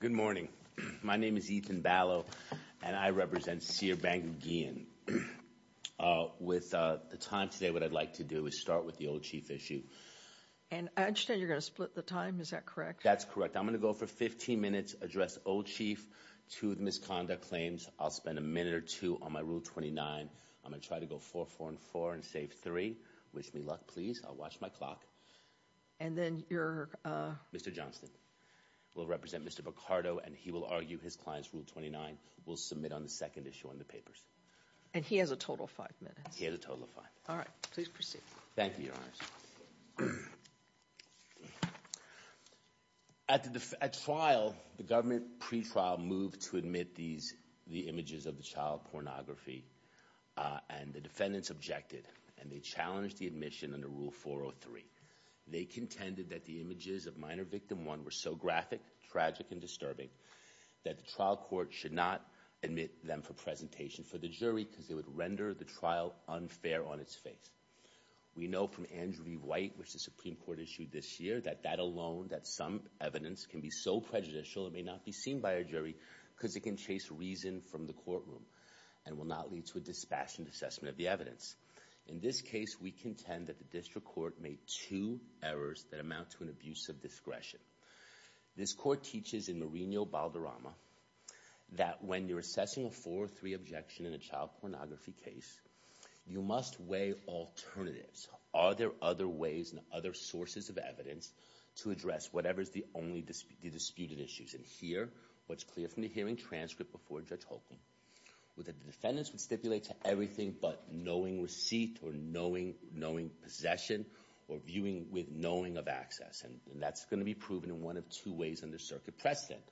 Good morning. My name is Ethan Ballo and I represent Sear Bank Gheon. With the time today what I'd like to do is start with the old chief issue. And I understand you're gonna split the time, is that correct? That's correct. I'm gonna go for 15 minutes address old chief to the misconduct claims. I'll spend a minute or two on my rule 29. I'm gonna try to go for four and four and save three. Wish me luck, please. I'll watch my clock. Mr. Johnston will represent Mr. Bocardo and he will argue his client's rule 29. We'll submit on the second issue on the papers. And he has a total of five minutes? He has a total of five. All right, please proceed. Thank you, Your Honors. At trial, the government pre-trial moved to admit these the images of the child pornography and the defendants objected and they challenged the admission under rule 403. They contended that the images of minor victim one were so graphic, tragic, and disturbing that the trial court should not admit them for presentation for the jury because they would render the trial unfair on its face. We know from Andrew V. White, which the Supreme Court issued this year, that that alone, that some evidence can be so prejudicial it may not be seen by a jury because it can chase reason from the courtroom and will not lead to a dispassionate assessment of the evidence. In this case, we contend that the district court made two errors that amount to an abuse of discretion. This court teaches in Marino Balderrama that when you're assessing a 403 objection in a child pornography case, you must weigh alternatives. Are there other ways and other sources of evidence to address whatever is the only disputed issues? And here, what's clear from the hearing transcript before Judge Holcomb, was that the defendants would stipulate to everything but knowing receipt or knowing possession or viewing with knowing of access. And that's going to be proven in one of two ways under circuit precedent.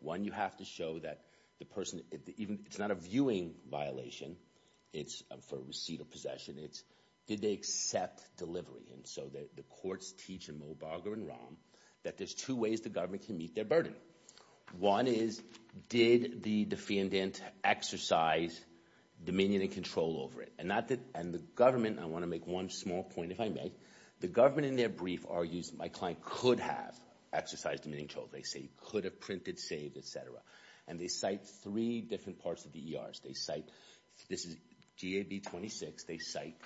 One, you have to show that the person, it's not a viewing violation, it's for receipt of possession, it's did they accept delivery. And so the courts teach in Mobarger and Rahm that there's two ways the government can their burden. One is, did the defendant exercise dominion and control over it? And the government, I want to make one small point if I may, the government in their brief argues my client could have exercised dominion control. They say he could have printed, saved, etc. And they cite three different parts of the ERs. They cite, this is GAB 26, they cite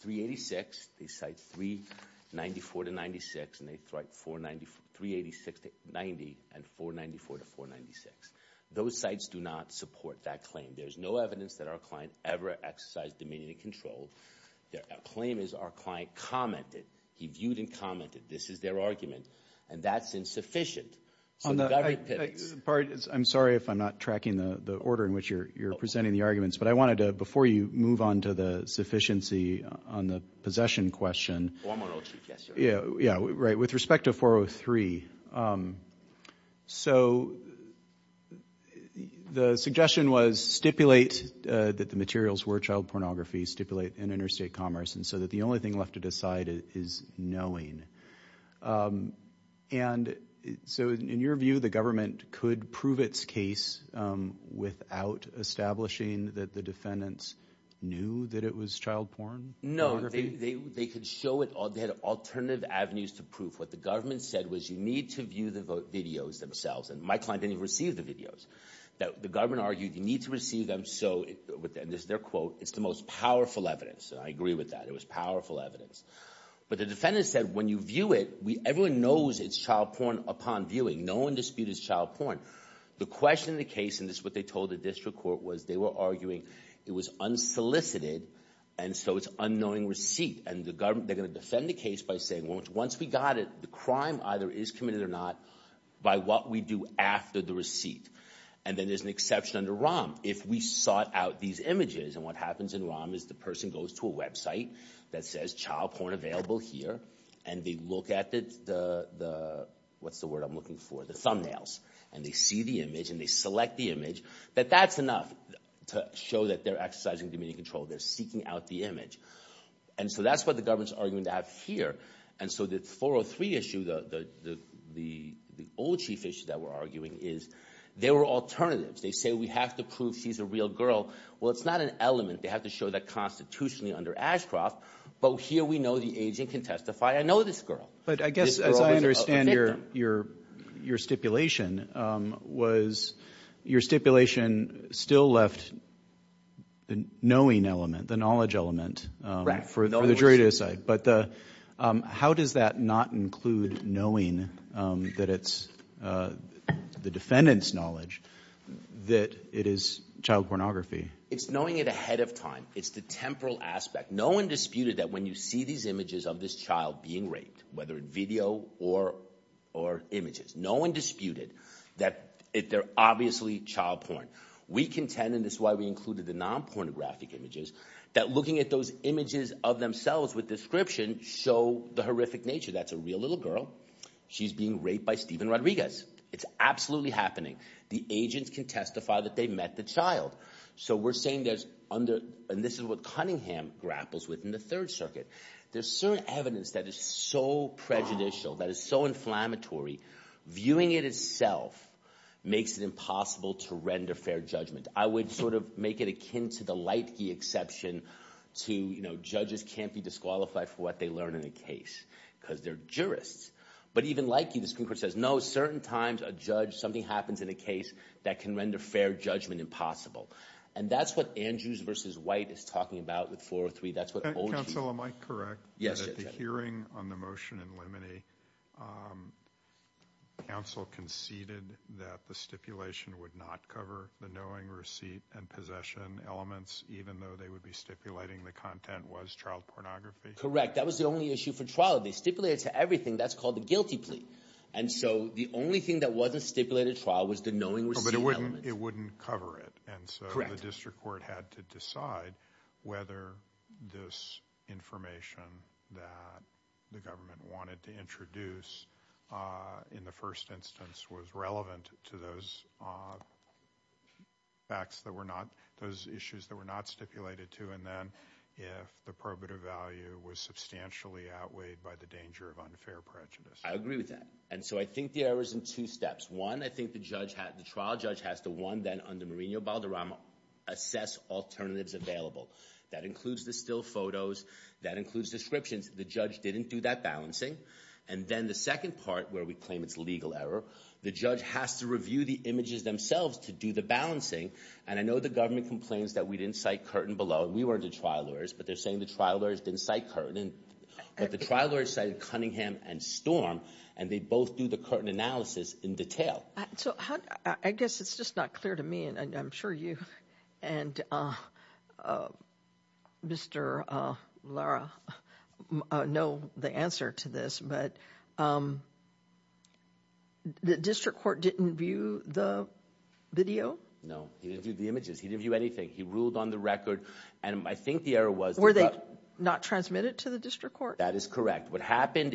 386, they cite 394 to 96, and they cite 386 to 90 and 494 to 496. Those sites do not support that claim. There's no evidence that our client ever exercised dominion and control. Their claim is our client commented. He viewed and commented. This is their argument and that's insufficient. I'm sorry if I'm not tracking the order in which you're presenting the arguments, but I wanted to, before you move on to the sufficiency on the possession question, with respect to 403, so the suggestion was stipulate that the materials were child pornography, stipulate in interstate commerce, and so that the only thing left to decide is knowing. And so in your view, the government could prove its case without establishing that the defendants knew that it was child porn? No, they could show it, or they had alternative avenues to prove. What the government said was you need to view the videos themselves. And my client didn't even receive the videos. The government argued you need to receive them so, and this is their quote, it's the most powerful evidence. I agree with that. It was powerful evidence. But the defendant said when you view it, everyone knows it's child porn upon viewing. No one disputed it's child porn. The question in the case, and this is what they told the district court, was they were arguing it was unsolicited, and so it's unknowing receipt. And the government, they're gonna defend the case by saying once we got it, the crime either is committed or not by what we do after the receipt. And then there's an exception under ROM. If we sought out these images, and what happens in ROM is the person goes to a website that says child porn available here, and they look at the, what's the word I'm looking for, the thumbnails, and they see the image, and they select the image, that that's enough to show that they're exercising dominion control. They're seeking out the image. And so that's what the government's arguing to have here. And so the 403 issue, the old chief issue that we're arguing, is there were alternatives. They say we have to prove she's a real girl. Well it's not an element. They have to show that constitutionally under Ashcroft. But here we know the agent can testify, I know this girl. But I guess as I understand your stipulation, was your stipulation still left the knowing element, the knowledge element for the jury to decide. But how does that not include knowing that it's the defendant's knowledge that it is child pornography? It's knowing it ahead of time. It's the temporal aspect. No one disputed that when you see these images of this child being raped, whether video or images, no one disputed that they're obviously child porn. We contend, and this is why we included the non-pornographic images, that looking at those images of themselves with description show the horrific nature. That's a real little girl. She's being raped by Steven Rodriguez. It's absolutely happening. The agents can testify that they met the child. So we're saying there's under, and this is what Cunningham grapples with in the Third Circuit. There's certain evidence that is so prejudicial, that is so inflammatory, viewing it itself makes it impossible to render fair judgment. I would sort of make it akin to the light key exception to, you know, judges can't be disqualified for what they learn in a case because they're jurists. But even like you, the Supreme Court says, no, certain times a judge, something happens in a case that can render fair judgment impossible. And that's what Andrews versus White is talking about with 403. That's what OG. Counsel, am I correct? Yes, you are. In the hearing on the motion in Lemony, counsel conceded that the stipulation would not cover the knowing, receipt, and possession elements, even though they would be stipulating the content was child pornography? Correct. That was the only issue for trial. They stipulated to everything. That's called the guilty plea. And so the only thing that wasn't covered. And so the district court had to decide whether this information that the government wanted to introduce in the first instance was relevant to those facts that were not, those issues that were not stipulated to. And then if the probative value was substantially outweighed by the danger of unfair prejudice. I agree with that. And so I think there was in two steps. One, I think the trial judge has to one, then under Mourinho-Balderrama, assess alternatives available. That includes the still photos. That includes descriptions. The judge didn't do that balancing. And then the second part, where we claim it's legal error, the judge has to review the images themselves to do the balancing. And I know the government complains that we didn't cite Curtin below. We were the trial lawyers. But they're saying the trial lawyers didn't cite Curtin. But the trial lawyers cited Cunningham and Storm. And they both do the Curtin analysis in detail. So I guess it's just not clear to me, and I'm sure you and Mr. Lara know the answer to this, but the district court didn't view the video? No. He didn't view the images. He didn't view anything. He ruled on the record. And I think the error was... Were they not transmitted to the district court? That is correct. What stands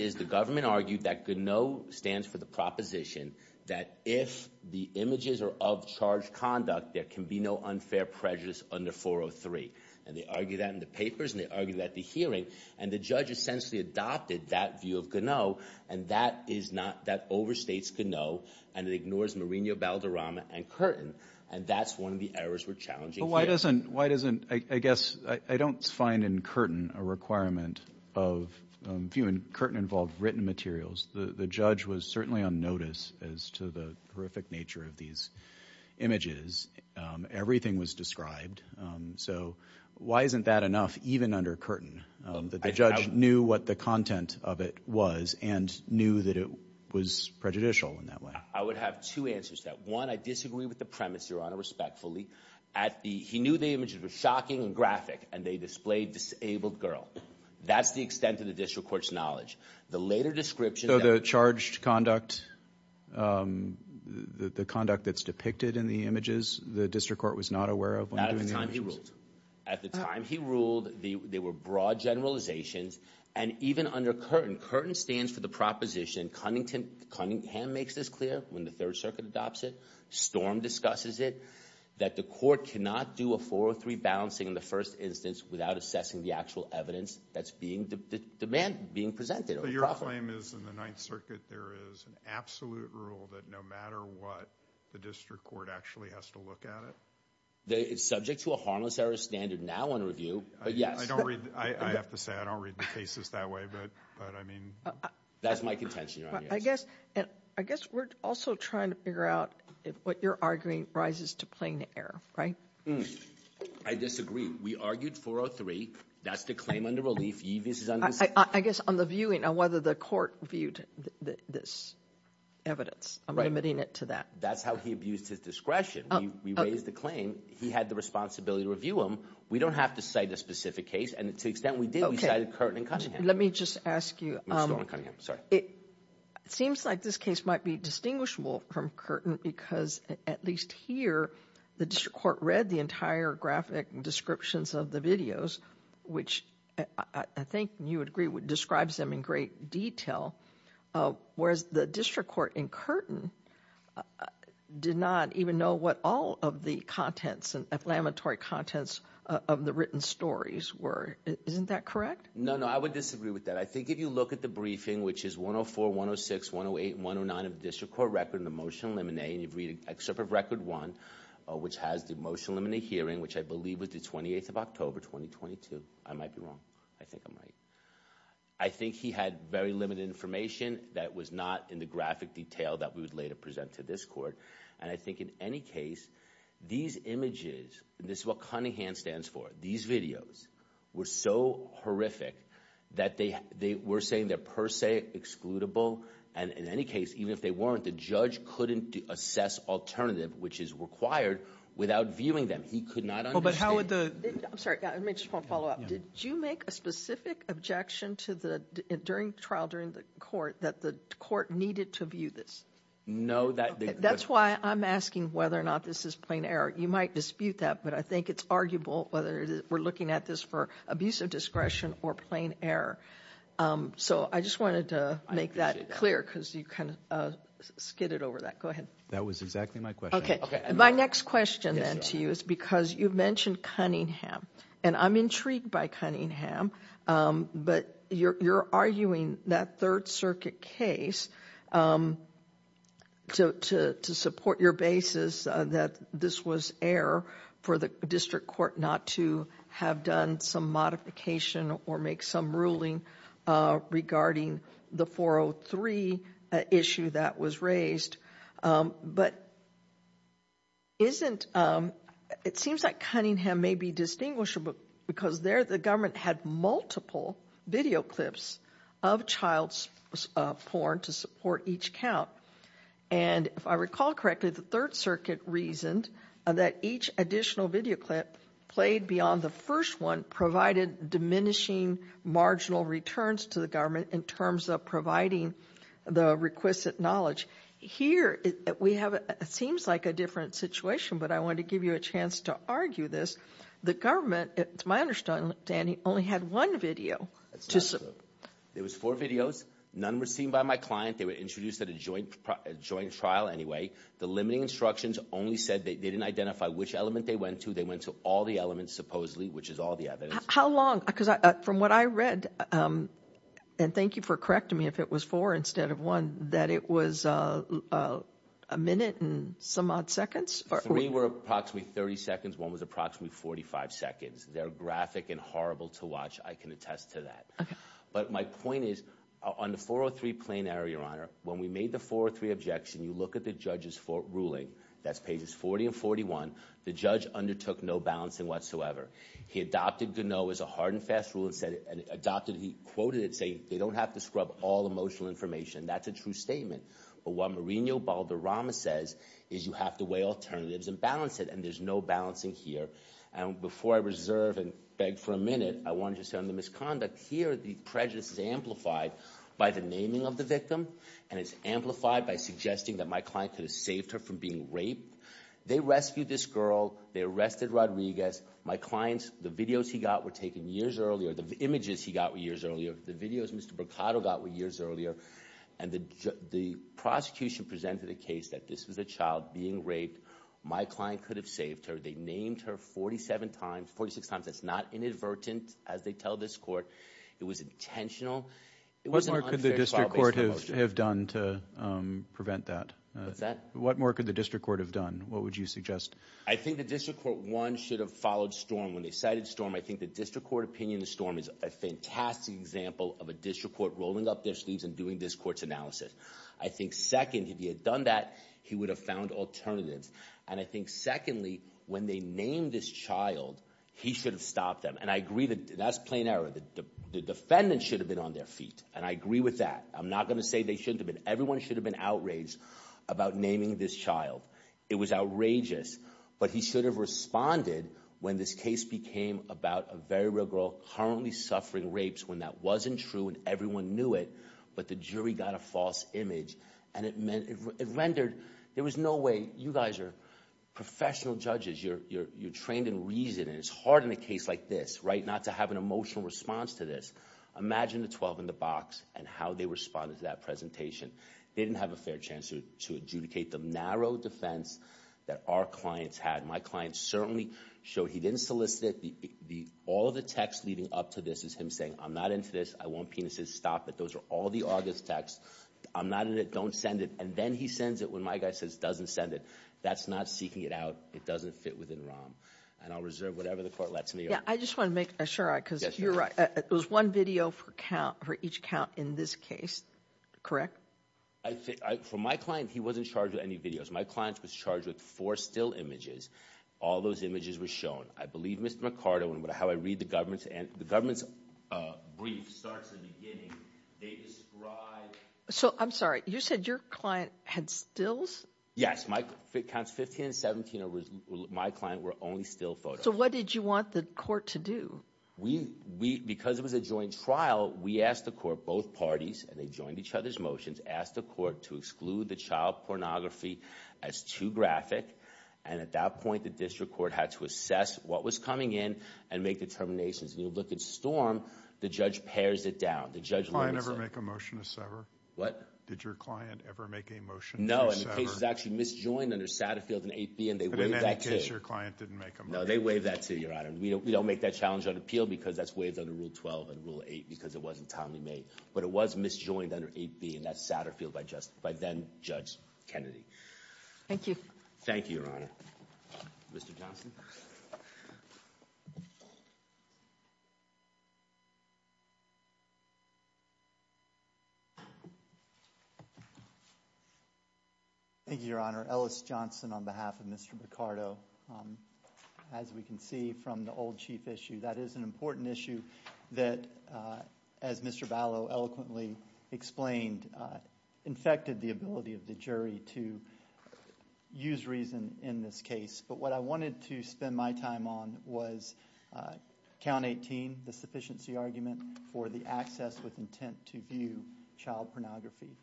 for the proposition that if the images are of charged conduct, there can be no unfair prejudice under 403. And they argue that in the papers. And they argue that at the hearing. And the judge essentially adopted that view of Ganneau. And that is not... That overstates Ganneau. And it ignores Mourinho-Balderrama and Curtin. And that's one of the errors we're challenging here. Why doesn't... Why doesn't... I guess I don't find in Curtin a requirement of viewing Curtin-involved written materials. The judge was certainly on notice as to the horrific nature of these images. Everything was described. So why isn't that enough, even under Curtin, that the judge knew what the content of it was and knew that it was prejudicial in that way? I would have two answers to that. One, I disagree with the premise, Your Honor, respectfully. At the... He knew the images were shocking and graphic, and they displayed disabled girl. That's the extent of the district court's knowledge. The later description... So the charged conduct, the conduct that's depicted in the images, the district court was not aware of? Not at the time he ruled. At the time he ruled, they were broad generalizations. And even under Curtin, Curtin stands for the proposition, Cunningham makes this clear when the Third Circuit adopts it, Storm discusses it, that the court cannot do a 403 balancing in the first instance without assessing the actual evidence that's being... the demand being presented. So your claim is in the Ninth Circuit there is an absolute rule that no matter what, the district court actually has to look at it? It's subject to a harmless error standard now under review, but yes. I don't read... I have to say, I don't read the cases that way, but I mean... That's my contention, Your Honor. I guess we're also trying to figure out if what you're arguing rises to plain error, right? I disagree. We argued 403. That's the claim under relief. I guess on the viewing, on whether the court viewed this evidence, I'm limiting it to that. That's how he abused his discretion. We raised the claim. He had the responsibility to review them. We don't have to cite a specific case. And to the extent we did, we cited Curtin and Cunningham. Let me just ask you, it seems like this case might be distinguishable from Curtin because at least here, the district court read the entire graphic descriptions of the videos, which I think you would agree describes them in great detail, whereas the district court in Curtin did not even know what all of the contents and inflammatory contents of the written stories were. Isn't that correct? No, no. I would disagree with that. I think if you look at the briefing, which is 104, 106, 108, and 109 of excerpt of record one, which has the motion eliminate hearing, which I believe was the 28th of October, 2022. I might be wrong. I think I'm right. I think he had very limited information that was not in the graphic detail that we would later present to this court. And I think in any case, these images, this is what Cunningham stands for. These videos were so horrific that they were saying they're per se excludable. And in any case, even if they weren't, the judge couldn't assess alternative, which is required without viewing them. He could not understand. But how would the... I'm sorry, I just want to follow up. Did you make a specific objection during the trial, during the court, that the court needed to view this? No, that... That's why I'm asking whether or not this is plain error. You might dispute that, but I think it's arguable whether we're looking at this for abusive discretion or plain error. So I just wanted to make that clear because you kind of skidded over that. That was exactly my question. My next question then to you is because you've mentioned Cunningham and I'm intrigued by Cunningham, but you're arguing that third circuit case to support your basis that this was error for the district court not to have done some modification or make some ruling regarding the 403 issue that was raised. But it seems like Cunningham may be distinguishable because there the government had multiple video clips of child's porn to support each count. And if I recall correctly, the third circuit reasoned that each additional video clip played beyond the first one provided diminishing marginal returns to the government in terms of providing the requisite knowledge. Here we have, it seems like a different situation, but I want to give you a chance to argue this. The government, it's my understanding, only had one video. There was four videos. None were seen by my client. They were introduced at a joint trial anyway. The limiting instructions only said they didn't identify which element they went to. They went to all the elements supposedly, which is all the evidence. How long? Because from what I read, and thank you for correcting me if it was four instead of one, that it was a minute and some odd seconds? Three were approximately 30 seconds. One was approximately 45 seconds. They're graphic and horrible to watch. I can attest to that. But my point is on the 403 plain error, Your Honor, when we made the 403 objection, you look at the judge's ruling. That's pages 40 and 41. The judge undertook no balancing whatsoever. He adopted Ganoe as a hard and fast rule and said, and adopted, he quoted it saying they don't have to scrub all emotional information. That's a true statement. But what Mourinho-Balderrama says is you have to weigh alternatives and balance it. And there's no balancing here. And before I reserve and beg for a minute, I want to just say on the misconduct, here the prejudice is amplified by the naming of the victim. And it's amplified by suggesting that my client could have saved her from being raped. They rescued this girl. They arrested Rodriguez. My clients, the videos he got were taken years earlier. The images he got were years earlier. The videos Mr. Boccato got were years earlier. And the prosecution presented a case that this was a child being raped. My client could have saved her. They named her 47 times, 46 times. That's not inadvertent, as they tell this court. It was intentional. It was an unfair trial based on emotion. What more could the district court have done to prevent that? What's that? What more could the district court have done? What would you suggest? I think the district court, one, should have followed Storm. When they cited Storm, I think the district court opinion of Storm is a fantastic example of a district court rolling up their sleeves and doing this court's analysis. I think, second, if he had done that, he would have found alternatives. And I think, secondly, when they named this child, he should have stopped them. And I agree that that's plain error. The defendant should have been on their feet. And I agree with that. I'm not going to say they shouldn't have been. Everyone should have been outraged about naming this child. It was outrageous. But he should have responded when this case became about a very real girl currently suffering rapes when that wasn't true and everyone knew it. But the jury got a false image. And it rendered, there was no way. You guys are professional judges. You're trained in reason. And it's hard in a case like this, right, not to have an emotional response to this. Imagine the 12 in the box and how they responded to that presentation. They didn't have a fair chance to adjudicate the narrow defense that our clients had. My clients certainly showed he didn't solicit it. All of the text leading up to this is him saying, I'm not into this. I want penises. Stop it. Those are all the August texts. I'm not in it. Don't send it. And then he sends it when my guy says, doesn't send it. That's not seeking it out. It doesn't fit within ROM. And I'll reserve whatever the court lets me. Yeah, I just want to make sure, because you're right. It was one video for count, for each count in this case, correct? I think, for my client, he wasn't charged with any videos. My client was charged with four still images. All those images were shown. I believe Mr. McCarter, and how I read the government's, and the government's brief starts at the beginning. They describe. So I'm sorry, you said your client had stills? Yes, my counts 15 and 17, my client were only still photos. So what did you want the court to do? We, because it was a joint trial, we asked the court, both parties, and they joined each other's motions, asked the court to exclude the child pornography as too graphic. And at that point, the district court had to assess what was coming in and make determinations. When you look at Storm, the judge pairs it down. Did the client ever make a motion to sever? What? Did your client ever make a motion to sever? No, and the case was actually misjoined under Satterfield and 8B, and they waived that too. But in any case, your client didn't make a motion? No, they waived that too, Your Honor. We don't make that challenge on appeal, because that's waived under Rule 12 and Rule 8, because it wasn't timely made. But it was misjoined under 8B, and that's Satterfield by then-Judge Kennedy. Thank you. Thank you, Your Honor. Mr. Johnson? Thank you, Your Honor. Ellis Johnson on behalf of Mr. Picardo. As we can see from the old chief issue, that is an important issue that, as Mr. Ballo eloquently explained, infected the ability of the jury to use reason in this case. But what I wanted to spend my time on was Count 18, the sufficiency argument for the access with intent to view child pornography.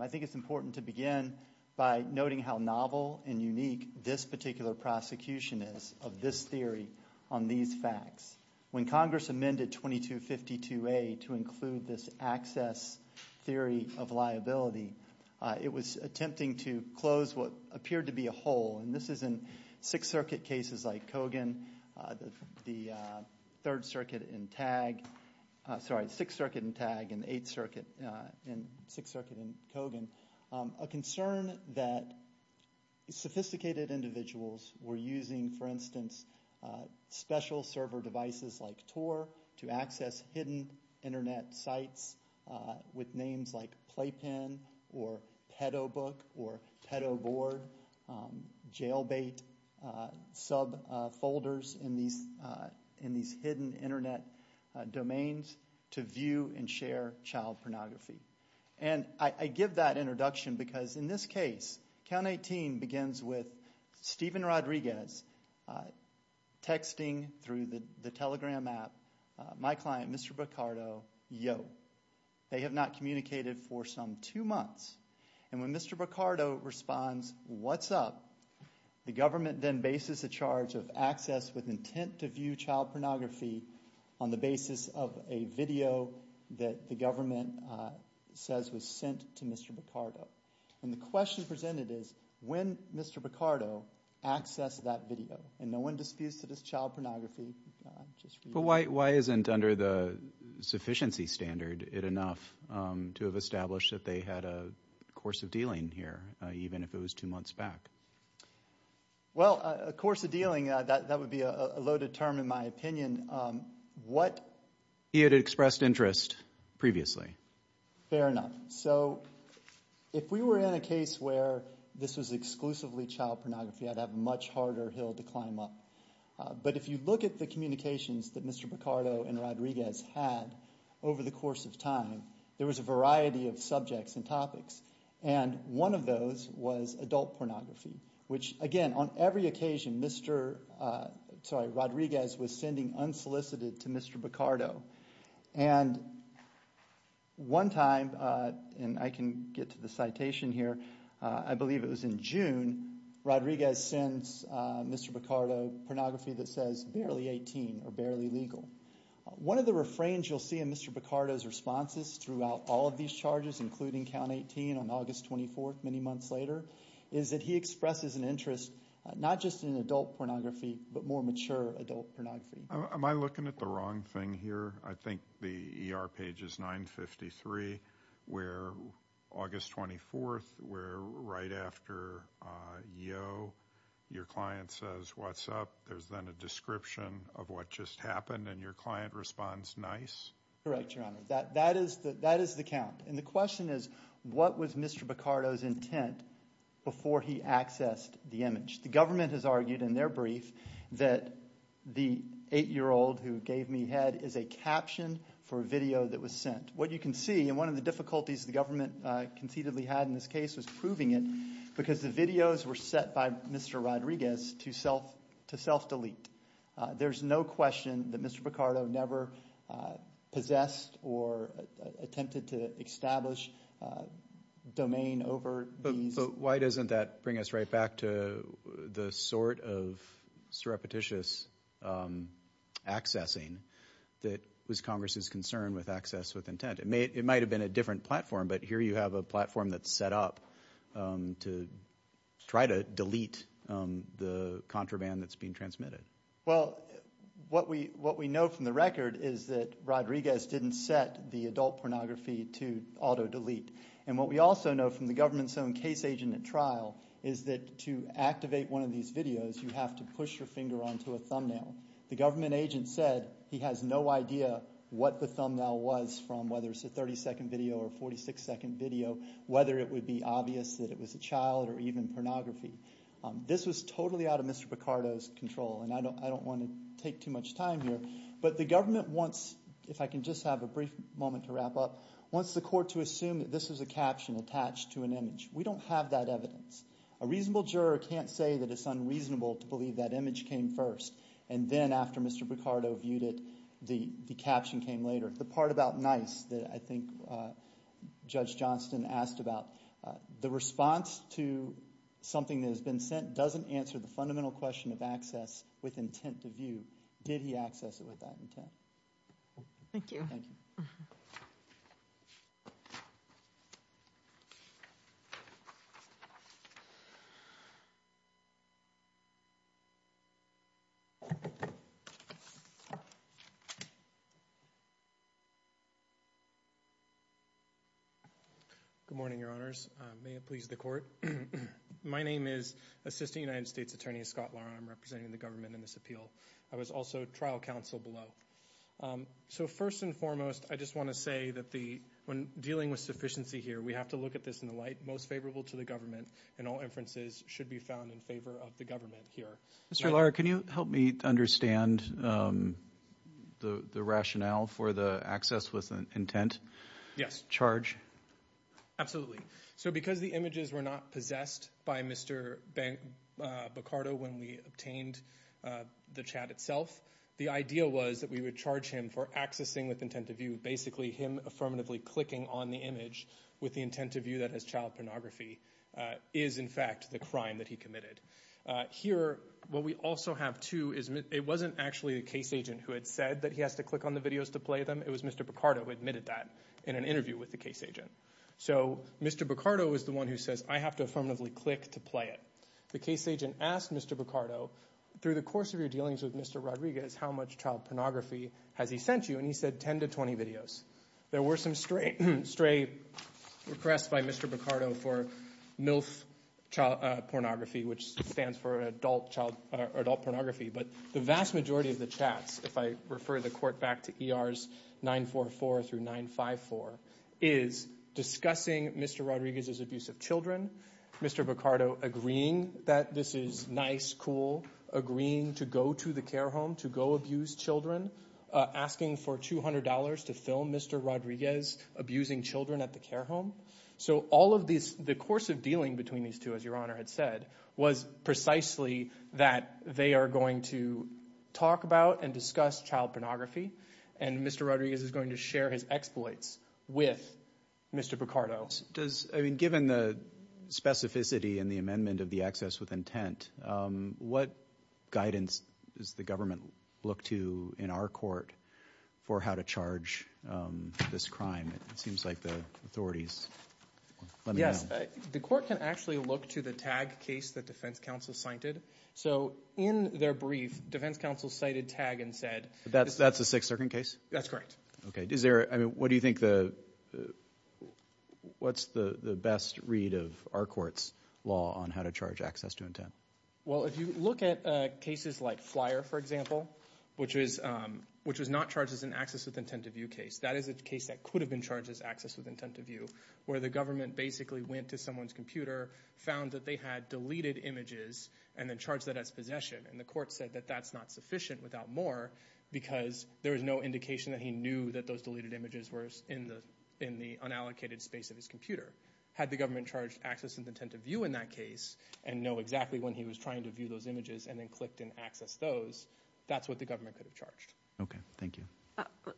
I think it's important to begin by noting how novel and unique this particular prosecution is of this theory on these facts. When Congress amended 2252A to include this access theory of liability, it was attempting to close what appeared to be a hole. And this is in Sixth Circuit cases like Kogan, the Third Circuit in Tag, sorry, Sixth Circuit in Tag, and Eighth Circuit, and Sixth Circuit in Kogan. A concern that sophisticated individuals were using, for instance, special server devices like Tor to access hidden internet sites with names like Playpen, or Pedobook, or Pedoboard, jailbait subfolders in these hidden internet domains to view and share child pornography. And I give that introduction because in this case, Count 18 begins with Stephen Rodriguez texting through the Telegram app, my client, Mr. Bacardo, yo. They have not communicated for some two months. And when Mr. Bacardo responds, what's up, the government then bases the charge of access with intent to view child pornography on the basis of a video that the government says was sent to Mr. Bacardo. And the question presented is, when Mr. Bacardo accessed that video? And no one disputes that it's child pornography. But why isn't, under the sufficiency standard, it enough to have established that they had a course of dealing here, even if it was two months back? Well, a course of dealing, that would be a loaded term, in my opinion, what he had expressed interest previously. Fair enough. So if we were in a case where this was exclusively child pornography, I'd have a much harder hill to climb up. But if you look at the communications that Mr. Bacardo and Rodriguez had over the course of time, there was a variety of subjects and topics. And one of those was adult pornography, which, again, on every occasion, Mr. Rodriguez was sending unsolicited to Mr. Bacardo. And one time, and I can get to the citation here, I believe it was in June, Rodriguez sends Mr. Bacardo pornography that says, barely 18 or barely legal. One of the refrains you'll see in Mr. Bacardo's responses throughout all of these charges, including count 18 on August 24th, many months later, is that he expresses an interest not just in adult pornography, but more mature adult pornography. Am I looking at the wrong thing here? I think the ER page is 953, where August 24th, where right after yo, your client says, what's up? There's then a description of what just happened, and your client responds, nice? Correct, Your Honor. That is the count. And the question is, what was Mr. Bacardo's intent before he accessed the image? The government has argued in their brief that the eight-year-old who gave me head is a caption for a video that was sent. What you can see, and one of the difficulties the government concededly had in this case was proving it because the videos were set by Mr. Rodriguez to self-delete. There's no question that Mr. Bacardo never possessed or attempted to establish domain over these. But why doesn't that bring us right back to the sort of surreptitious accessing that was Congress's concern with access with intent? It might have been a different platform, but here you have a platform that's set up to try to delete the contraband that's being transmitted. Well, what we know from the record is that Rodriguez didn't set the adult pornography to auto-delete. And what we also know from the government's own case agent at trial is that to activate one of these videos, you have to push your finger onto a thumbnail. The government agent said he has no idea what the thumbnail was from whether it's a 30-second video or a 46-second video, whether it would be obvious that it was a child or even pornography. This was totally out of Mr. Bacardo's control. And I don't want to take too much time here. But the government wants, if I can just have a brief moment to wrap up, wants the court to assume that this is a caption attached to an image. We don't have that evidence. A reasonable juror can't say that it's unreasonable to believe that image came first and then after Mr. Bacardo viewed it, the caption came later. The part about nice that I think Judge Johnston asked about, the response to something that sent doesn't answer the fundamental question of access with intent to view. Did he access it with that intent? Thank you. Good morning, Your Honors. May it please the court. My name is Assistant United States Attorney Scott Lara. I'm representing the government in this appeal. I was also trial counsel below. So first and foremost, I just want to say that when dealing with sufficiency here, we have to look at this in the light most favorable to the government and all inferences should be found in favor of the government here. Mr. Lara, can you help me understand the rationale for the access with intent charge? Absolutely. So because the images were not possessed by Mr. Bacardo when we obtained the chat itself, the idea was that we would charge him for accessing with intent to view. Basically, him affirmatively clicking on the image with the intent to view that has child pornography is in fact the crime that he committed. Here, what we also have too is it wasn't actually a case agent who had said that he has to click on the videos to play them. It was Mr. Bacardo who admitted that in an interview with the case agent. So Mr. Bacardo was the one who says, I have to affirmatively click to play it. The case agent asked Mr. Bacardo, through the course of your dealings with Mr. Rodriguez, how much child pornography has he sent you? And he said 10 to 20 videos. There were some stray requests by Mr. Bacardo for MILF child pornography, which stands for adult pornography. But the vast majority of the chats, if I refer the court back to ERs 944 through 954, is discussing Mr. Rodriguez's abuse of children, Mr. Bacardo agreeing that this is nice, cool, agreeing to go to the care home to go abuse children, asking for $200 to film Mr. Rodriguez abusing children at the care home. So all of this, the course of dealing between these two, as your honor had said, was precisely that they are going to talk about and discuss child pornography. And Mr. Rodriguez is going to share his exploits with Mr. Bacardo. Does, I mean, given the specificity and the amendment of the access with intent, what guidance does the government look to in our court for how to charge this crime? It seems like the authorities let me know. Yes, the court can actually look to the tag case that defense counsel cited. So in their brief, defense counsel cited tag and said. That's a six-second case? That's correct. Okay. Is there, I mean, what do you think the, what's the best read of our court's law on how to charge access to intent? Well, if you look at cases like Flyer, for example, which was not charged as an access with intent to view case, that is a case that could have been charged as access with intent to view, where the government basically went to someone's computer, found that they had deleted images, and then charged that as possession. And the court said that that's not sufficient without more because there was no indication that he knew that those deleted images were in the unallocated space of his computer. Had the government charged access with intent to view in that case and know exactly when he was trying to view those images and then clicked and accessed those, that's what the government could have charged. Okay. Thank you.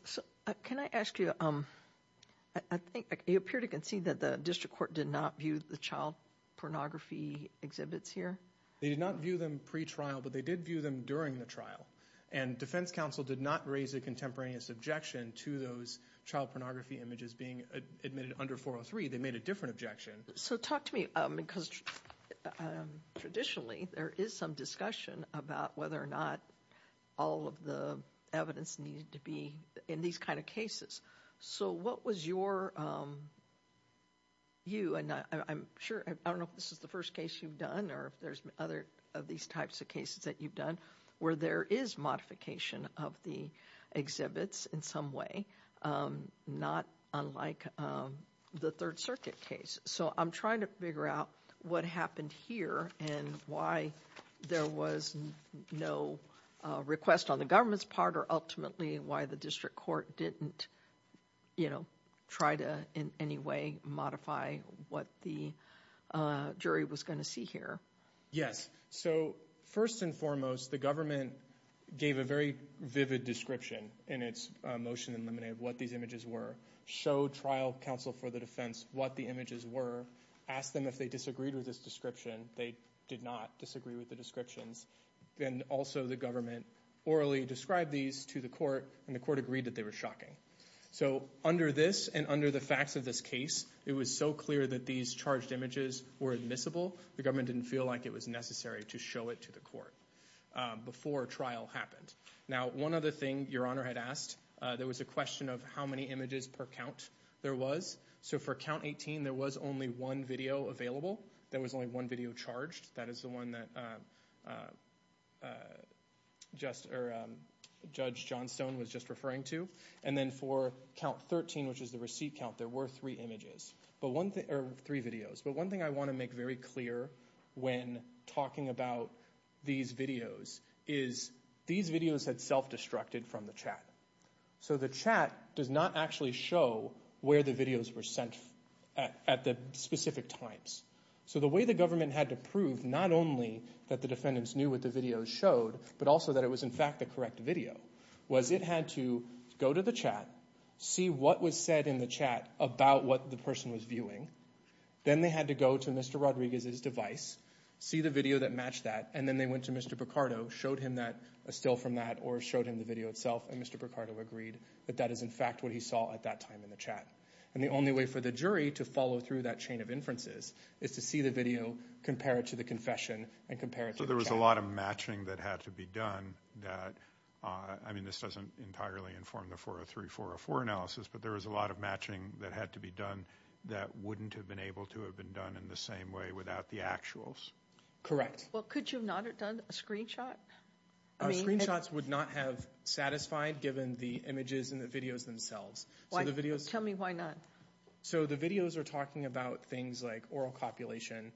So can I ask you, I think you appear to concede that the district court did not view the child pornography exhibits here? They did not view them pre-trial, but they did view them during the trial. And defense counsel did not raise a contemporaneous objection to those child pornography images being admitted under 403. They made a different objection. So talk to me, because traditionally there is some discussion about whether or not all of the evidence needed to be in these kind of cases. So what was your, you, and I'm sure, I don't know if this is the first case you've done or if there's other of these types of cases that you've done where there is modification of the exhibits in some way, not unlike the third circuit case. So I'm trying to figure out what happened here and why there was no request on the government's part or ultimately why the district court didn't, you know, try to in any way modify what the jury was going to see here. Yes. So first and foremost, the government gave a very vivid description in its motion in limine of what these images were. Showed trial counsel for the defense what the images were, asked them if they disagreed with this description. They did not disagree with the descriptions. Then also the government orally described these to the court and the court agreed that they were shocking. So under this and under the facts of this case, it was so clear that these charged images were admissible. The government didn't feel like it was necessary to show it to the court before trial happened. Now, one other thing your honor had asked, there was a question of how many images per count there was. So for count 18, there was only one video available. There was only one video charged. That is the one that judge Johnstone was just referring to. And then for count 13, which is the receipt count, there were three videos. But one thing I want to make very clear when talking about these videos is these videos had self-destructed from the chat. So the chat does not actually show where the videos were sent at the specific times. So the way the government had to prove not only that the defendants knew what the videos showed, but also that it was in fact the correct video, was it had to go to the chat, see what was said in the chat about what the person was viewing. Then they had to go to Mr. Rodriguez's device, see the video that matched that, and then they went to Mr. Picardo, showed him that, a still from that, or showed him the video itself, and Mr. Picardo agreed that that is in fact what he saw at that time in the chat. And the only way for the jury to follow through that chain of inferences is to see the video, compare it to the confession, and compare it to the chat. So there was a lot of matching that had to be done. I mean, this doesn't entirely inform the 403, 404 analysis, but there was a lot of matching that had to be done that wouldn't have been able to have been done in the same way without the actuals. Correct. Well, could you not have done a screenshot? Screenshots would not have satisfied given the images and the videos themselves. Tell me why not. So the videos are talking about things like oral copulation,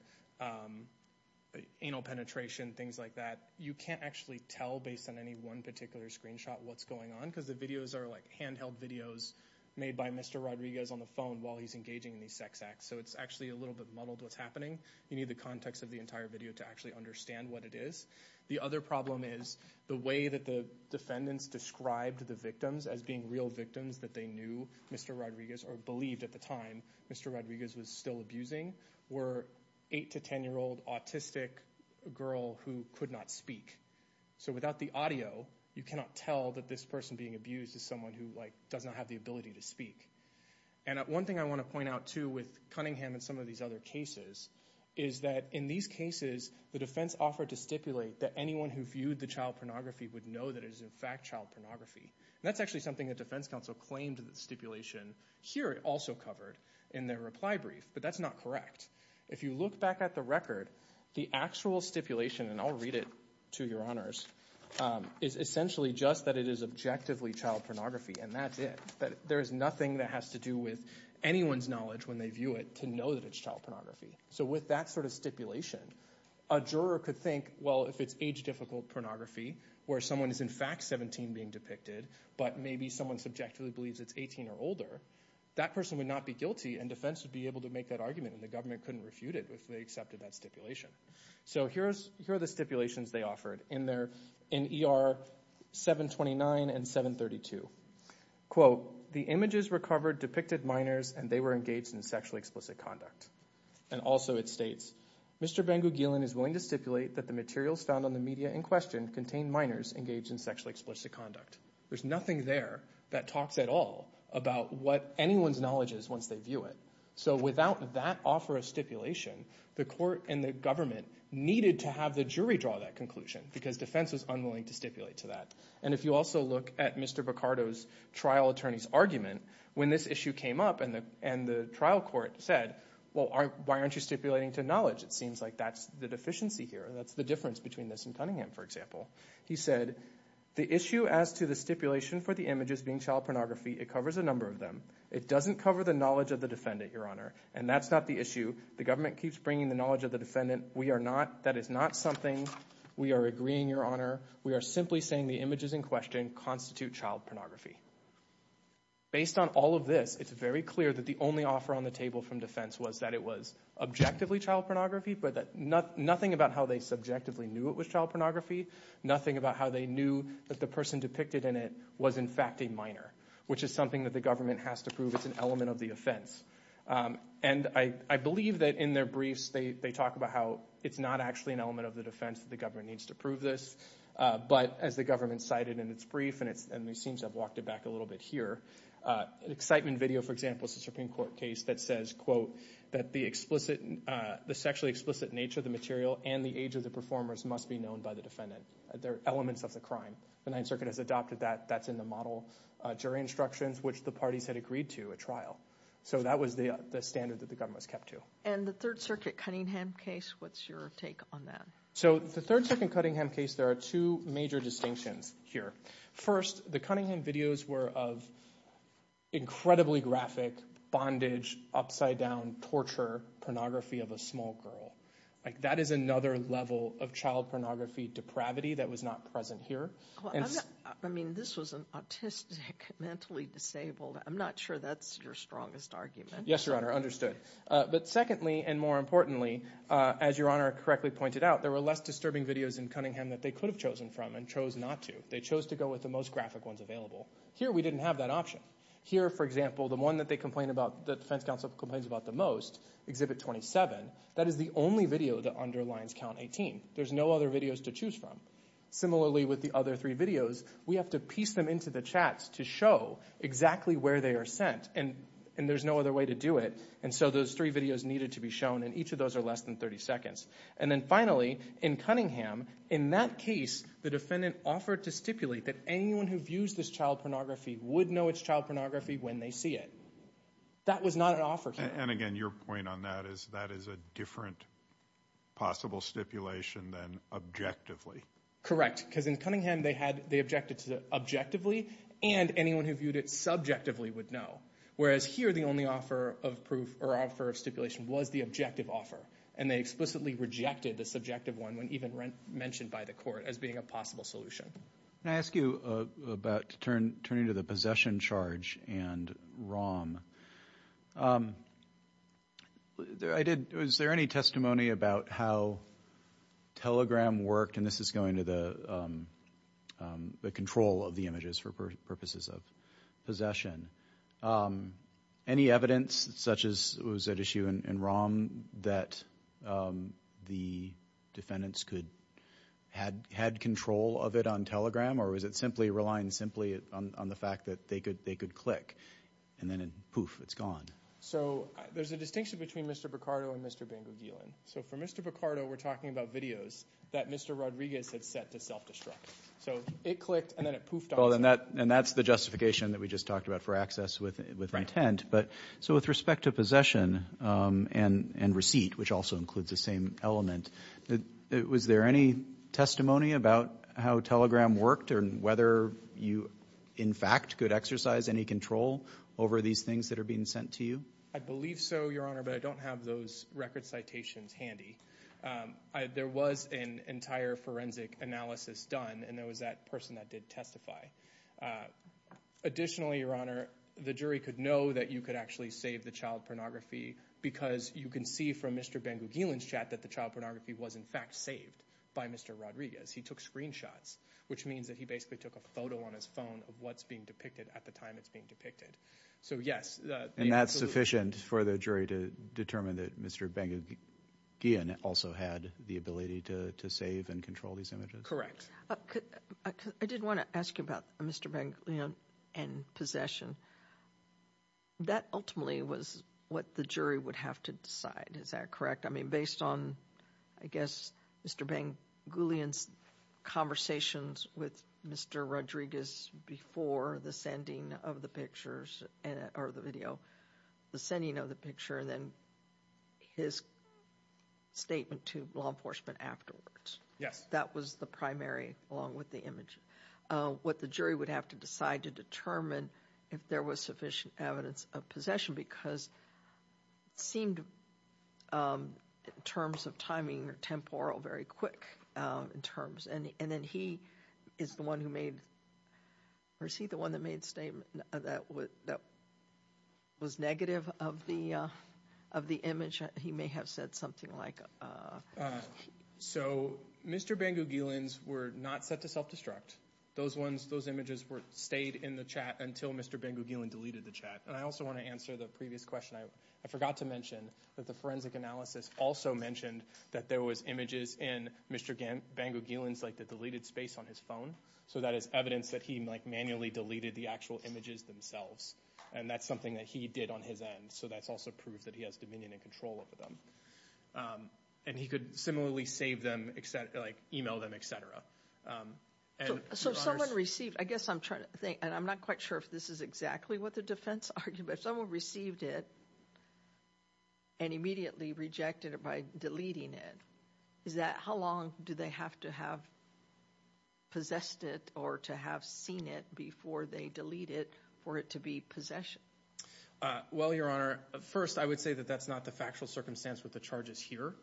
anal penetration, things like that. You can't actually tell based on any one particular screenshot what's going on because the videos are like handheld videos made by Mr. Rodriguez on the phone while he's engaging in these sex acts. So it's actually a little bit muddled what's happening. You need the context of the entire video to actually understand what it is. The other problem is the way that the defendants described the victims as being real victims that they knew Mr. Rodriguez or believed at the time Mr. Rodriguez was still abusing were 8 to 10-year-old autistic girl who could not speak. So without the audio, you cannot tell that this person being abused is someone who doesn't have the ability to speak. And one thing I want to point out too with Cunningham and some of these other cases is that in these cases, the defense offered to stipulate that anyone who viewed the child pornography would know that it is in fact child pornography. That's actually something the defense counsel claimed the stipulation here also covered in their reply brief, but that's not correct. If you look back at the record, the actual stipulation, and I'll read it to your honors, is essentially just that it is objectively child pornography and that's it. There is nothing that has to do with anyone's knowledge when they view it to know that it's child pornography. So with that sort of stipulation, a juror could think, well, if it's age-difficult pornography where someone is in fact 17 being depicted, but maybe someone subjectively believes it's 18 or older, that person would not be guilty and defense would be able to make that argument and the government couldn't refute it if they accepted that stipulation. So here are the stipulations they offered in ER 729 and 732. Quote, the images recovered depicted minors and they were engaged in sexually explicit conduct. And also it states, Mr. Ben-Gugelin is willing to stipulate that the materials found on the contained minors engaged in sexually explicit conduct. There's nothing there that talks at all about what anyone's knowledge is once they view it. So without that offer of stipulation, the court and the government needed to have the jury draw that conclusion because defense was unwilling to stipulate to that. And if you also look at Mr. Bacardo's trial attorney's argument, when this issue came up and the trial court said, well, why aren't you stipulating to knowledge? It seems like that's the deficiency here. That's the difference between this and Cunningham, for example. He said, the issue as to the stipulation for the images being child pornography, it covers a number of them. It doesn't cover the knowledge of the defendant, your honor. And that's not the issue. The government keeps bringing the knowledge of the defendant. We are not, that is not something we are agreeing, your honor. We are simply saying the images in question constitute child pornography. Based on all of this, it's very clear that the only offer on the table from defense was that it was objectively child pornography, but nothing about how they subjectively knew it was child pornography, nothing about how they knew that the person depicted in it was in fact a minor, which is something that the government has to prove. It's an element of the offense. And I believe that in their briefs, they talk about how it's not actually an element of the defense that the government needs to prove this. But as the government cited in its brief, and it seems I've walked it back a little bit here, an excitement video, for example, is a Supreme Court case that says, quote, that the sexually explicit nature of the material and the age of the performers must be known by the defendant. They're elements of the crime. The Ninth Circuit has adopted that. That's in the model jury instructions, which the parties had agreed to at trial. So that was the standard that the government was kept to. And the Third Circuit Cunningham case, what's your take on that? So the Third Circuit Cunningham case, there are two major distinctions here. First, the Cunningham videos were of incredibly graphic bondage, upside down torture pornography of a small girl. Like that is another level of child pornography depravity that was not present here. I mean, this was an autistic, mentally disabled. I'm not sure that's your strongest argument. Yes, Your Honor, understood. But secondly, and more importantly, as Your Honor correctly pointed out, there were less disturbing videos in Cunningham that they could have chosen from and chose not to. They chose to go with the most graphic ones available. Here, we didn't have that option. Here, for example, the one that the defense counsel complains about the most, Exhibit 27, that is the only video that underlines Count 18. There's no other videos to choose from. Similarly, with the other three videos, we have to piece them into the chats to show exactly where they are sent. And there's no other way to do it. And so those three videos needed to be shown. And each of those are less than 30 seconds. And then finally, in Cunningham, in that case, the defendant offered to stipulate that anyone who views this child pornography would know it's child pornography when they see it. That was not an offer here. And again, your point on that is that is a different possible stipulation than objectively. Correct. Because in Cunningham, they objected to objectively and anyone who viewed it subjectively would know. Whereas here, the only offer of proof or offer of stipulation was the objective offer. And they explicitly rejected the subjective one when even mentioned by the court as being a possible solution. Can I ask you about turning to the possession charge and ROM? Is there any testimony about how Telegram worked? And this is going to the control of the images for purposes of possession. Any evidence such as it was at issue in ROM that the defendants could had control of it on Telegram? Or was it simply relying simply on the fact that they could click and then poof, it's gone? So there's a distinction between Mr. Picardo and Mr. Bango-Ghelan. So for Mr. Picardo, we're talking about videos that Mr. Rodriguez had set to self-destruct. So it clicked and then it poofed on. And that's the justification that we just talked about for access with intent. But so with respect to possession and receipt, which also includes the same element, was there any testimony about how Telegram worked or whether you, in fact, could exercise any control over these things that are being sent to you? I believe so, Your Honor, but I don't have those record citations handy. There was an entire forensic analysis done and there was that person that did testify. Additionally, Your Honor, the jury could know that you could actually save the child pornography because you can see from Mr. Bango-Ghelan's chat that the child pornography was, in fact, saved by Mr. Rodriguez. He took screenshots, which means that he basically took a photo on his phone of what's being depicted at the time it's being depicted. So, yes. And that's sufficient for the jury to determine that Mr. Bango-Ghelan also had the ability to save and control these images? Correct. I did want to ask you about Mr. Bango-Ghelan and possession. That ultimately was what the jury would have to decide. Is that correct? I mean, based on, I guess, Mr. Bango-Ghelan's conversations with Mr. Rodriguez before the sending of the pictures or the video, the sending of the picture, and then his statement to law enforcement afterwards. Yes. That was the primary along with the image. What the jury would have to decide to determine if there was sufficient evidence of possession because it seemed, in terms of timing or temporal, very quick in terms. And then he is the one who made, or is he the one that made the statement that was negative of the image? He may have said something like... So, Mr. Bango-Ghelan's were not set to self-destruct. Those ones, those images stayed in the chat until Mr. Bango-Ghelan deleted the chat. And I also want to answer the previous question. I forgot to mention that the forensic analysis also mentioned that there was images in Mr. Bango-Ghelan's, like the deleted space on his phone. So that is evidence that he manually deleted the actual images themselves. And that's something that he did on his end. So that's also proof that he has dominion and control over them. And he could similarly save them, like email them, etc. So someone received, I guess I'm trying to think, and I'm not quite sure if this is exactly what the defense argued, but someone received it and immediately rejected it by deleting it. Is that, how long do they have to have possessed it or to have seen it before they delete it for it to be possession? Well, Your Honor, first I would say that that's not the factual circumstance with the charges here.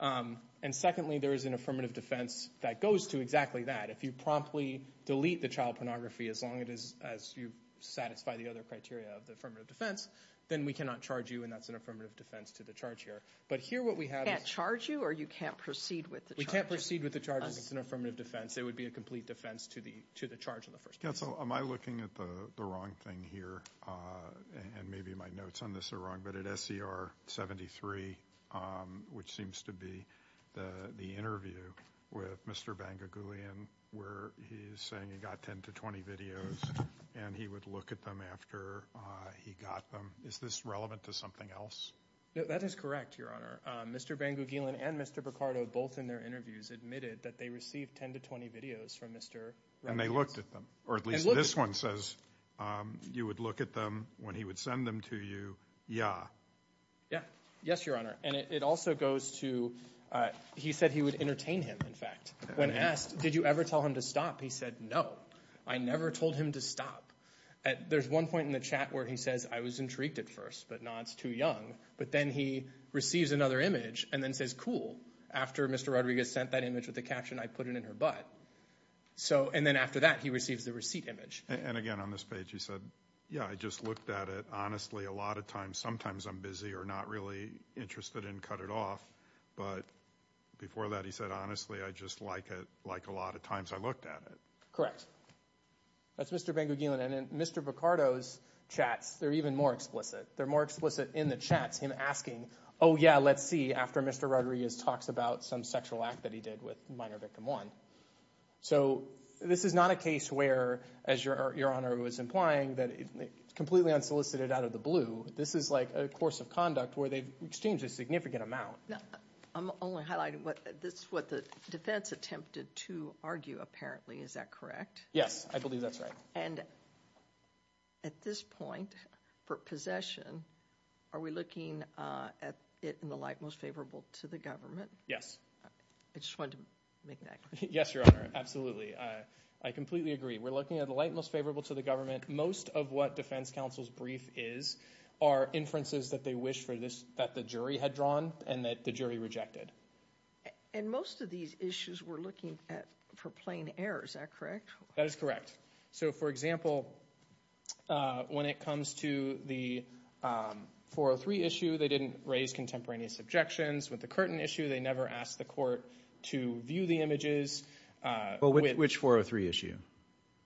And secondly, there is an affirmative defense that goes to exactly that. If you promptly delete the child pornography as long as you satisfy the other criteria of the affirmative defense, then we cannot charge you. And that's an affirmative defense to the charge here. But here what we have is- Can't charge you or you can't proceed with the charge? We can't proceed with the charge if it's an affirmative defense. It would be a complete defense to the charge in the first place. Counsel, am I looking at the wrong thing here? And maybe my notes on this are wrong. But at SER 73, which seems to be the interview with Mr. Bangugulian, where he's saying he got 10 to 20 videos and he would look at them after he got them. Is this relevant to something else? That is correct, Your Honor. Mr. Bangugulian and Mr. Picardo, both in their interviews, admitted that they received 10 to 20 videos from Mr. Rodriguez. And they looked at them. Or at least this one says you would look at them when he would send them to you. Yeah. Yeah. Yes, Your Honor. And it also goes to- he said he would entertain him, in fact. When asked, did you ever tell him to stop? He said, no. I never told him to stop. There's one point in the chat where he says, I was intrigued at first, but now it's too young. But then he receives another image and then says, cool. After Mr. Rodriguez sent that image with the caption, I put it in her butt. And then after that, he receives the receipt image. And again, on this page, he said, yeah, I just looked at it. Sometimes I'm busy or not really interested and cut it off. But before that, he said, honestly, I just like it like a lot of times I looked at it. That's Mr. Bangugulian. And in Mr. Picardo's chats, they're even more explicit. They're more explicit in the chats, him asking, oh, yeah, let's see, after Mr. Rodriguez talks about some sexual act that he did with minor victim one. So this is not a case where, as Your Honor was implying, that it's completely unsolicited out of the blue. This is like a course of conduct where they've exchanged a significant amount. I'm only highlighting what the defense attempted to argue, apparently. Is that correct? Yes, I believe that's right. And at this point, for possession, are we looking at it in the light most favorable to the government? Yes. I just wanted to make that clear. Yes, Your Honor. Absolutely. I completely agree. We're looking at the light most favorable to the government. Most of what defense counsel's brief is are inferences that they wish that the jury had drawn and that the jury rejected. And most of these issues we're looking at for plain error. Is that correct? That is correct. So, for example, when it comes to the 403 issue, they didn't raise contemporaneous objections. With the Curtin issue, they never asked the court to view the images. Which 403 issue?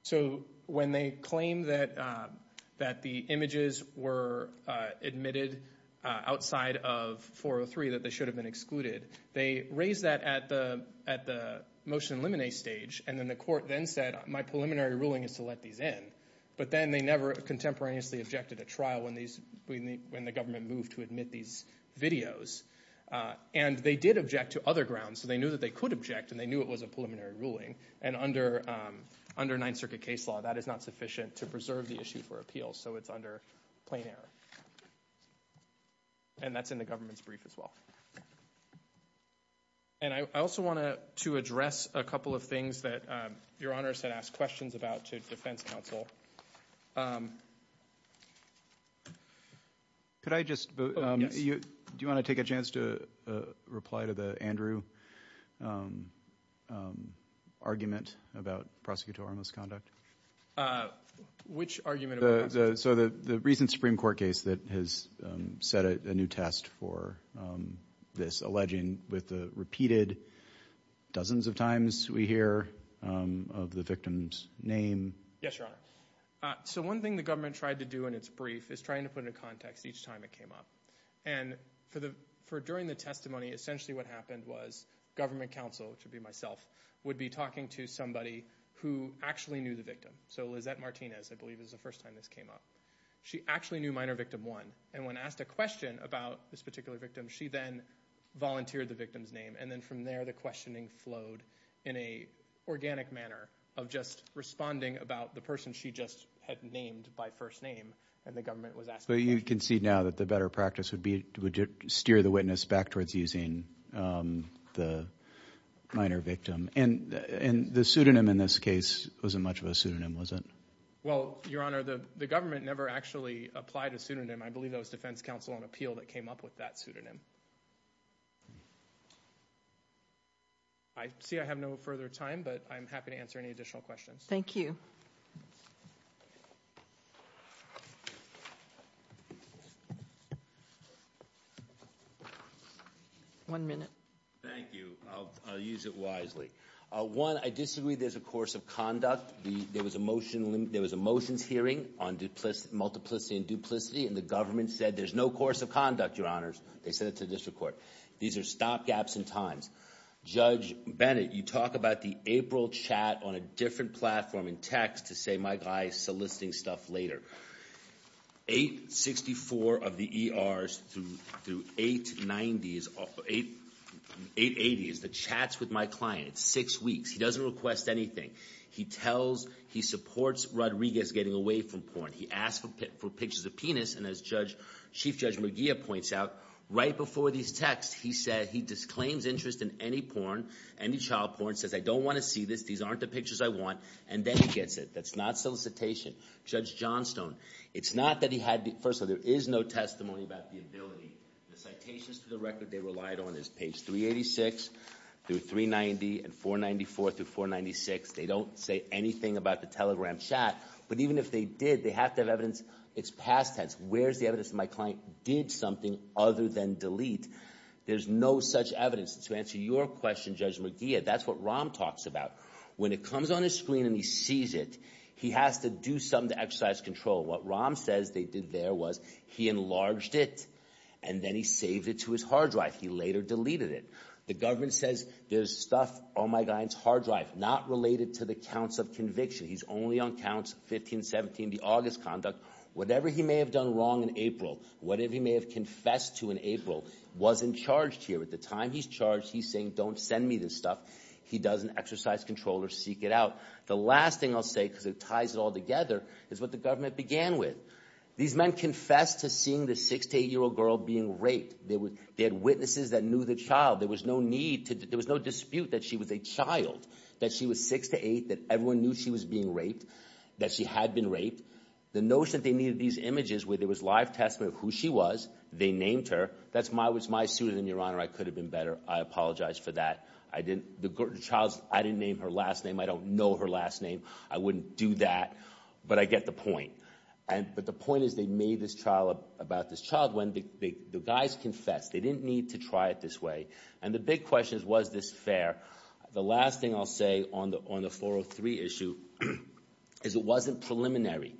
So when they claim that the images were admitted outside of 403, that they should have been excluded, they raised that at the motion limine stage. And then the court then said, my preliminary ruling is to let these in. But then they never contemporaneously objected at trial when the government moved to admit these videos. And they did object to other grounds. So they knew that they could object, and they knew it was a preliminary ruling. And under Ninth Circuit case law, that is not sufficient to preserve the issue for appeals. So it's under plain error. And that's in the government's brief as well. And I also want to address a couple of things that your honors had asked questions about to defense counsel. Could I just, do you want to take a chance to reply to the Andrew? Um, um, argument about prosecutorial misconduct? Uh, which argument? So the recent Supreme Court case that has set a new test for, um, this alleging with the repeated dozens of times we hear, um, of the victim's name. Yes, your honor. So one thing the government tried to do in its brief is trying to put in a context each time it came up. And for the, for during the testimony, essentially what happened was government counsel, which would be myself, would be talking to somebody who actually knew the victim. So Lizette Martinez, I believe, is the first time this came up. She actually knew minor victim one. And when asked a question about this particular victim, she then volunteered the victim's name. And then from there, the questioning flowed in a organic manner of just responding about the person she just had named by first name. And the government was asking. You can see now that the better practice would be to steer the witness back towards using, um, the minor victim and, and the pseudonym in this case wasn't much of a pseudonym, was it? Well, your honor, the, the government never actually applied a pseudonym. I believe that was defense counsel on appeal that came up with that pseudonym. I see I have no further time, but I'm happy to answer any additional questions. Thank you. One minute. Thank you. I'll, I'll use it wisely. One, I disagree there's a course of conduct. The, there was a motion, there was a motions hearing on duplicity, multiplicity and duplicity, and the government said there's no course of conduct, your honors. They sent it to the district court. These are stop gaps in times. Judge Bennett, you talk about the April chat on a different platform in text to say my guy is soliciting stuff later. 864 of the ERs through, through 890s, 880s, the chats with my client, six weeks. He doesn't request anything. He tells, he supports Rodriguez getting away from porn. He asked for pictures of penis. And as judge, Chief Judge McGee points out, right before these texts, he said he disclaims interest in any porn, any child porn, says, I don't want to see this. These aren't the pictures I want. And then he gets it. That's not solicitation. Judge Johnstone, it's not that he had, first of all, there is no testimony about the ability. The citations to the record they relied on is page 386 through 390 and 494 through 496. They don't say anything about the telegram chat, but even if they did, they have to have It's past tense. Where's the evidence that my client did something other than delete? There's no such evidence to answer your question, Judge McGee. That's what Rahm talks about. When it comes on his screen and he sees it, he has to do something to exercise control. What Rahm says they did there was he enlarged it and then he saved it to his hard drive. He later deleted it. The government says there's stuff on my client's hard drive not related to the counts of conviction. He's only on counts 15, 17, the August conduct. Whatever he may have done wrong in April, whatever he may have confessed to in April wasn't charged here. At the time he's charged, he's saying, don't send me this stuff. He doesn't exercise control or seek it out. The last thing I'll say, because it ties it all together, is what the government began with. These men confessed to seeing the six to eight year old girl being raped. They had witnesses that knew the child. There was no dispute that she was a child, that she was six to eight, that everyone knew she was being raped, that she had been raped. The notion that they needed these images where there was live testimony of who she was. They named her. That's my was my student in your honor. I could have been better. I apologize for that. I didn't the child. I didn't name her last name. I don't know her last name. I wouldn't do that. But I get the point. But the point is they made this trial about this child when the guys confessed. They didn't need to try it this way. And the big question is, was this fair? The last thing I'll say on the 403 issue is it wasn't preliminary.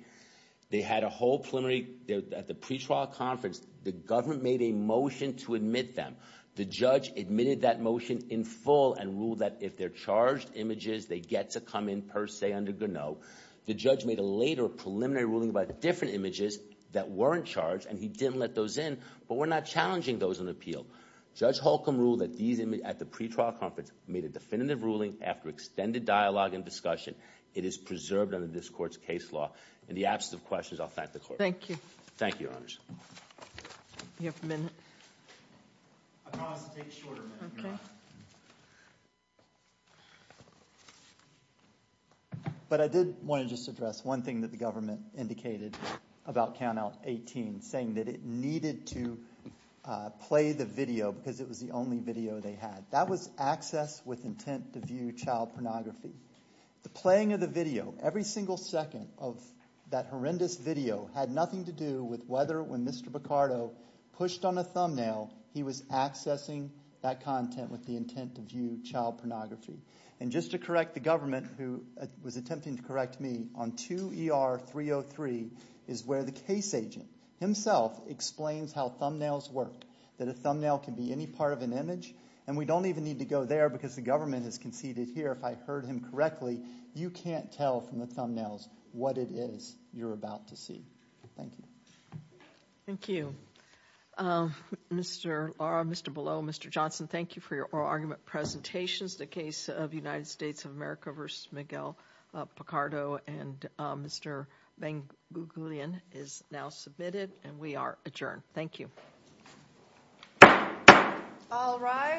They had a whole preliminary at the pretrial conference. The government made a motion to admit them. The judge admitted that motion in full and ruled that if they're charged images, they get to come in per se under Gannot. The judge made a later preliminary ruling about different images that weren't charged, and he didn't let those in. But we're not challenging those in appeal. Judge Holcomb ruled that these images at the pretrial conference made a definitive ruling after extended dialogue and discussion. It is preserved under this court's case law. In the absence of questions, I'll thank the court. Thank you. Thank you, your honors. You have a minute. I promise to take a shorter minute, your honor. But I did want to just address one thing that the government indicated about Count Out 18, saying that it needed to play the video because it was the only video they had. That was access with intent to view child pornography. The playing of the video, every single second of that horrendous video, had nothing to do with whether when Mr. Picardo pushed on a thumbnail, he was accessing that content with the intent to view child pornography. And just to correct the government, who was attempting to correct me, on 2 ER 303 is where the case agent himself explains how thumbnails work, that a thumbnail can be any part of an image. And we don't even need to go there because the government has conceded here, if I heard him correctly, you can't tell from the thumbnails what it is you're about to see. Thank you. Thank you. Um, Mr. Laura, Mr. Below, Mr. Johnson, thank you for your oral argument presentations. The case of United States of America versus Miguel Picardo and Mr. is now submitted and we are adjourned. Thank you. All right.